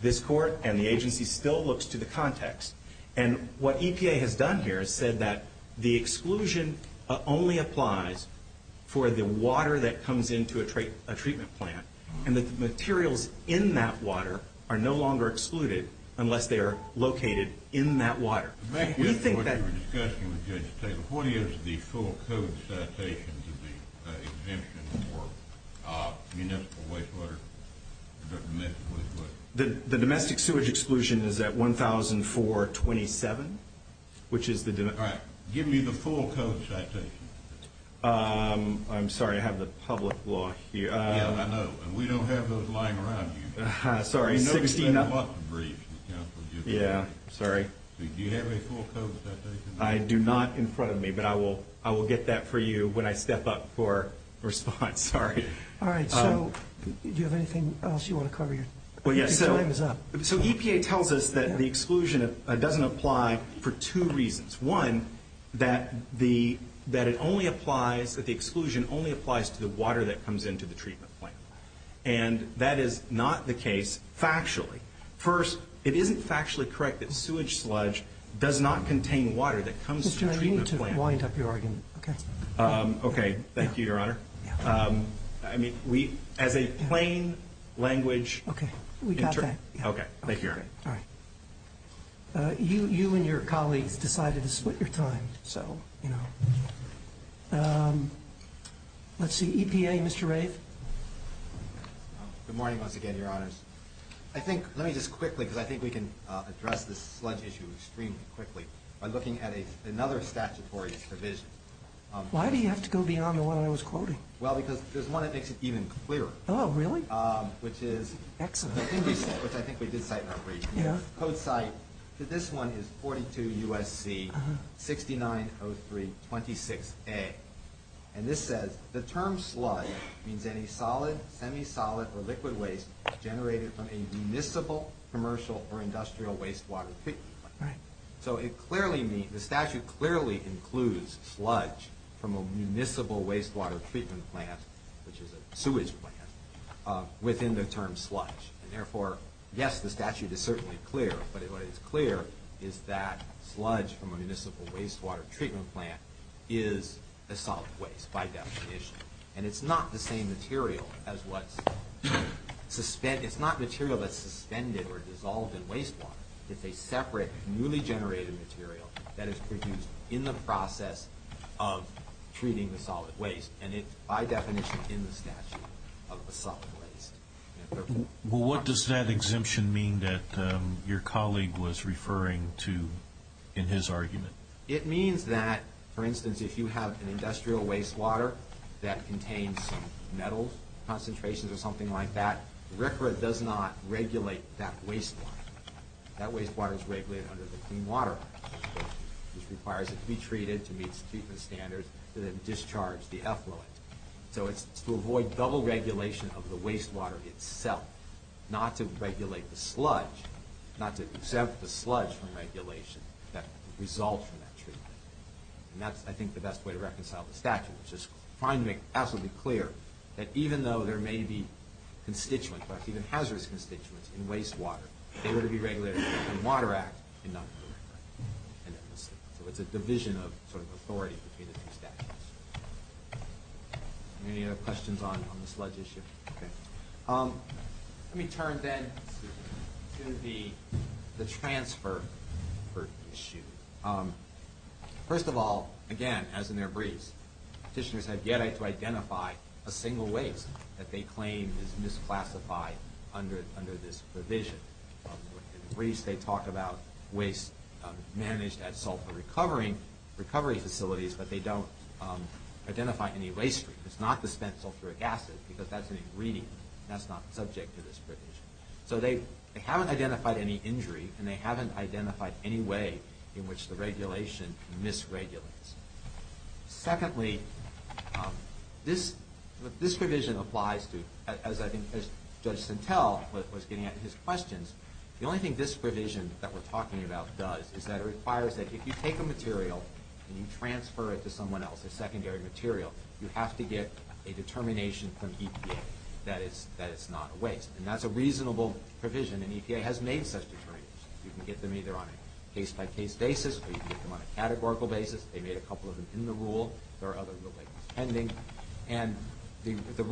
This Court and the agency still looks to the context. And what EPA has done here is said that the exclusion only applies for the water that comes into a treatment plant and that the exclusion only applies to the water that the treatment plant. has done is said exclusion only applies to the water that comes into treatment plants. And his interpretation is that we don't use those water that come into treatment plants. And that is not the case factually. First, factually correct that sewage sludge does not contain water that comes into the treatment plant. And that's not the case factually. Please. Thank you. I think we are As a plain language interpreter. Thank you, your honor. You and your colleagues decided to split your time. Let's see. EPA, Mr. Rafe. Let me quickly because I think we can address the sludge issue extremely quickly by looking at another statutory provision. Why do you have to go beyond the one I was quoting? Because there is one that makes it even clearer. Oh, really? Which is code site to this one is 42 USC 6903 26A. And this says, the term sludge means any solid, semi-solid, or liquid waste generated from a municipal, commercial, or industrial wastewater treatment plant. So the statute clearly includes sludge from a municipal wastewater treatment plant, which is a sewage plant, within the term sludge. Therefore, yes, the statute is certainly clear, but what is clear is that sludge from a municipal wastewater treatment plant is a solid waste, by definition. And it's not the same material as what's suspended, it's not material that's suspended or dissolved in wastewater. It's a separate, newly-generated material that is produced in the process of treating the solid waste. And it's, by definition, in the statute of a solid waste. Well, what does that exemption mean that your colleague was referring to in his argument? It means that, for instance, if you have an industrial wastewater that contains some concentrations or something like that, RCRA does not regulate that wastewater. That wastewater is regulated under the Clean Water Act, which requires it to be treated to meet treatment standards that have discharged the effluent. So it's to avoid double regulation of the wastewater itself, not to the sludge, not to exempt the sludge from regulation that results from that treatment. And that's, I think, the best way to reconcile the statute, which is trying to make absolutely clear that even though there may be constituents, perhaps even hazardous constituents, in wastewater, they would be regulated under the Clean Water Act and not the direct regulation. So it's a division of authority between the two statutes. Any other questions on the sludge issue? Let me turn then to the transfer issue. First of all, again, as in their briefs, petitioners have yet to identify a single waste that they claim is misclassified under this provision. In briefs, they talk about waste managed at sulfur recovery facilities, but they don't identify any waste. It's not the spent sulfuric acid because that's an ingredient. That's not subject to this provision. So they haven't identified any injury, and they haven't identified any way in which the regulation misregulates. Secondly, this provision applies to as Judge Sintel was getting at in his questions, the only thing this provision that we're talking about does is that it requires that if you take a material and you transfer it to someone else, a secondary material, you have to get a determination from EPA that it's not a waste. And that's a reasonable provision, and EPA has made such determinations. You can get them either on a case-by-case basis, or you can get them on a categorical basis. They made a couple of them in the rule. There are other rules pending. And the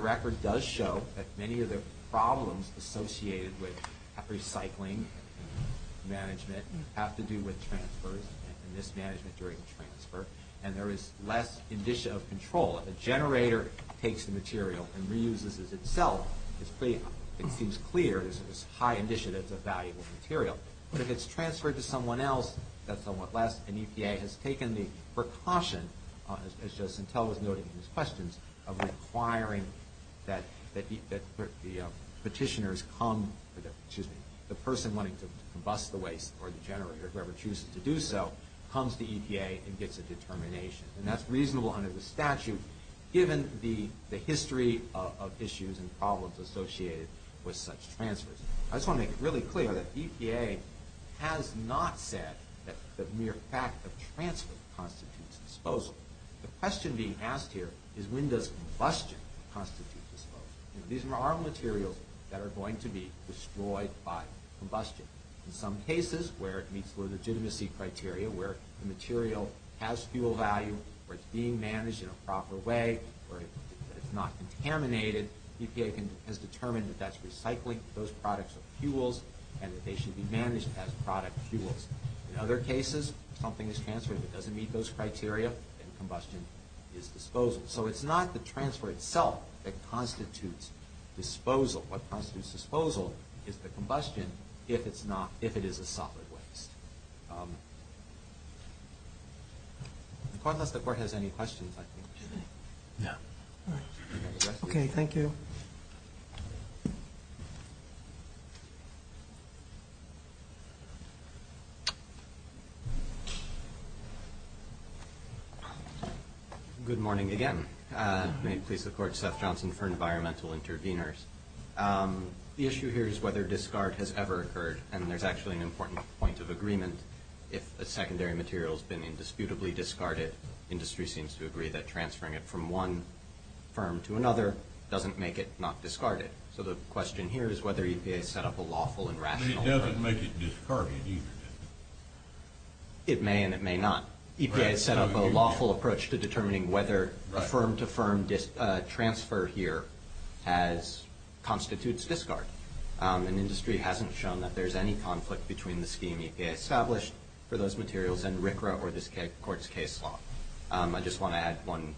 record does show that many of the problems associated with recycling management have to do with transfers and mismanagement during transfer. And there is less control. If a generator takes the material and reuses it itself, it seems clear that it's a valuable material. But if it's transferred to someone else, that's somewhat different. Nevertheless, an EPA has taken the precaution of requiring that the person wanting to combust the waste or the generator or whoever chooses to do so, comes to EPA and gets a determination. And that's reasonable under the statute given the history of issues and problems associated with such transfers. I just want to make a quick point. The question being asked here is when does combustion constitute disposal? These are materials that are going to be destroyed by combustion. In some cases, where it meets legitimacy criteria, where the material has fuel value, where it's being managed in a proper way, where it's not contaminated, EPA has determined that that's recycling, that those products are fuels, and that they should be managed as product fuels. In other cases, something is transferred that doesn't meet those criteria and combustion is disposal. So it's not the transfer itself that constitutes disposal. What constitutes disposal is the combustion if it is a solid waste. Unless the court has any questions, I think we should end. Okay, thank you. Good morning May it please the court, Seth Johnson, for Environmental Intervenors. The issue here is whether discard has ever occurred. I think that's a very important point of agreement. If a secondary material has been indisputably discarded, industry seems to agree that transferring it from one firm to another doesn't make it not discarded. So the question here is whether EPA set up a lawful approach to determining whether a firm to firm transfer here constitutes discard. Industry hasn't shown that there's any conflict between the scheme established for those materials and RCRA or this court's case law. I just want to add one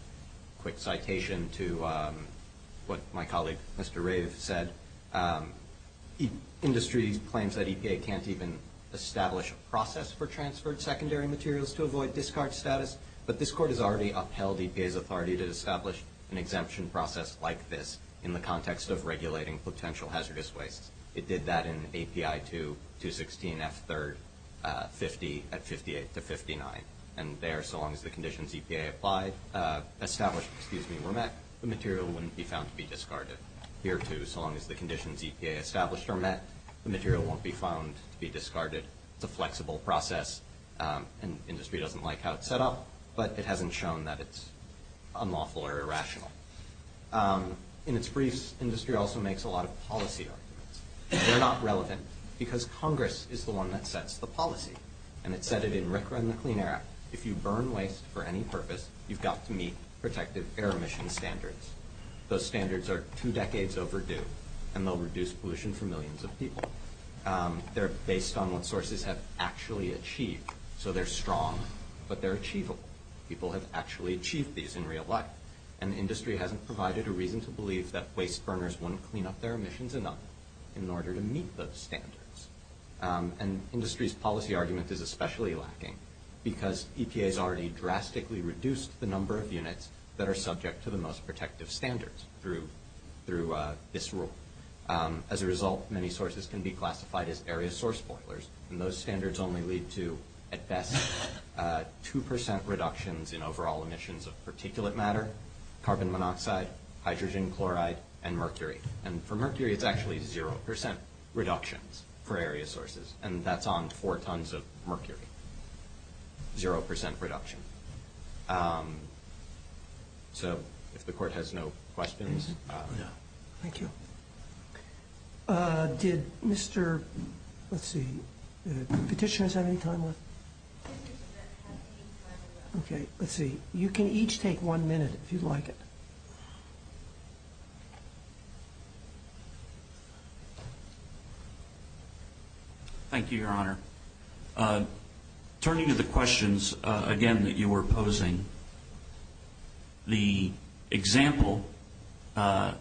quick citation to what my colleague Mr. Rave said. Industry claims that EPA can't even establish a process for transferred secondary materials to avoid discard status, but this court has already upheld EPA's authority to establish an exemption process like this where the material wouldn't be found to be discarded here too so long as the conditions EPA established are met. The material won't be found to be discarded. It's a flexible process. Industry doesn't like how it's set up, but it doesn't it's set up. Industry also makes a lot of policy arguments. They're not relevant because Congress is the one that sets the policy and it said it in RCRA and the Clean Air Act. If you burn waste for any purpose, you've got to meet those standards. Those standards are two decades overdue and they'll reduce pollution for millions of people. They're based on what sources have achieved so they're strong but achievable. Industry hasn't achieved yet. They're based on the most protective standards. As a result, many sources can be classified as area source boilers. Those standards only lead to 2% reduction in particulate matter, carbon dioxide They only lead to 2% reduction. If the court has no questions. Thank you. Did Mr. Petitioner have any time left? You can each take one minute if you would like it. Thank you, Your Honor. Turning to the questions again that you were posing, the example that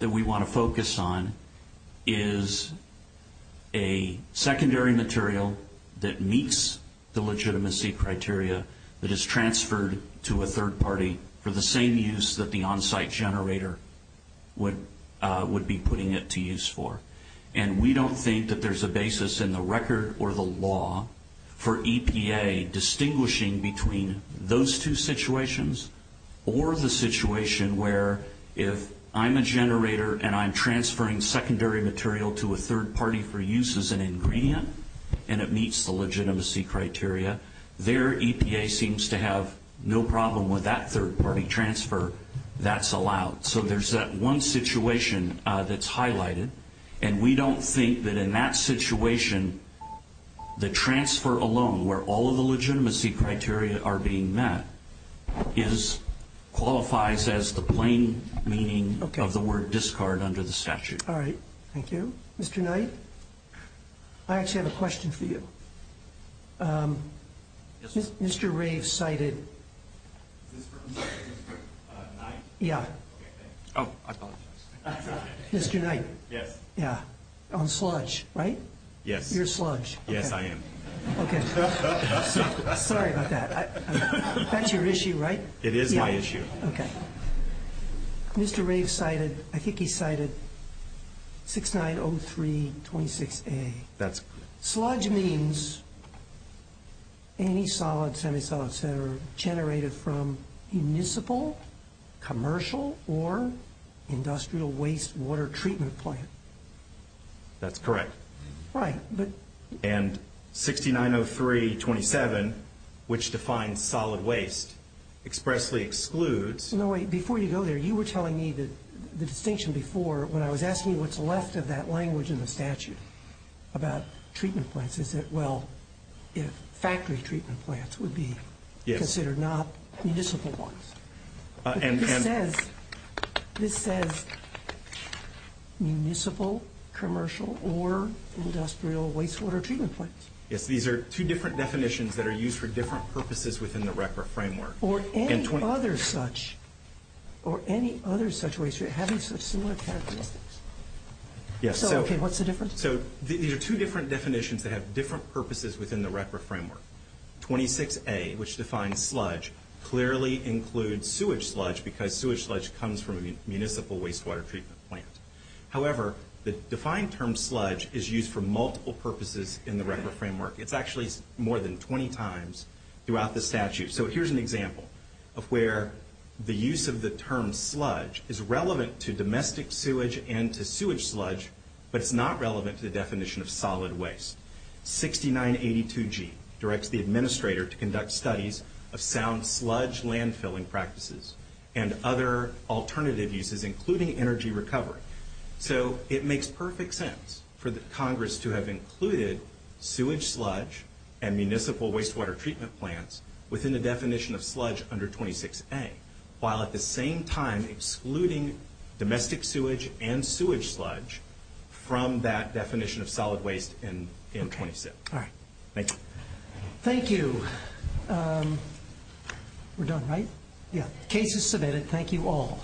we want to focus on is a secondary material that meets the legitimacy criteria that is transferred to a third party for the same use that the onsite generator would be putting it to use for. And we don't think that there's a basis in the record or the law for EPA distinguishing between those two situations or the situation where if I'm a generator and I'm transferring secondary material to a third party for use as an ingredient and it meets the legitimacy criteria and we don't think that in that situation the transfer alone where all of the legitimacy criteria are being met qualifies as the plain meaning of the word discard under the statute. All right. Thank you. Mr. Knight? I actually have a question for you. Mr. Knight? Yes. On sludge, right? Yes. You're sludge. Yes, I am. Okay. Sorry about that. That's your issue, right? It is my issue. Okay. Mr. Rave cited 6903 26A. Sludge means any solid, semi-solid, et cetera generated from municipal, commercial, or industrial waste water treatment plant. That's correct. Right. And 6903 27, which defines solid waste, expressly excludes No, wait. Before you go there, you were telling me the distinction before, when I was asking what's the language in the statute about treatment plants, is that well, factory treatment plants would be considered not municipal ones. This says municipal, commercial, or industrial waste water treatment plants. Yes, these are two different definitions that are used for different purposes within the RECRA framework. Or any other such waste treatment having similar characteristics? Yes. So, okay, what's the difference? These are two different definitions that have different purposes within the RECRA framework. 26A, which defines sludge, clearly includes sewage sludge because sewage sludge comes from a municipal waste water treatment plant. However, the defined term sludge is used for two purposes. 6982G directs the administrator to conduct studies of sound sludge landfilling practices and other alternative uses, including energy recovery. So, it makes perfect sense for the Congress to have included sewage sludge and municipal waste water treatment plants within the definition of sludge under 26A, while at the same time excluding domestic sewage and sewage sludge from that definition of solid waste in 26A. Thank you. Thank you. We're done, right? Yeah. Okay. The case is submitted.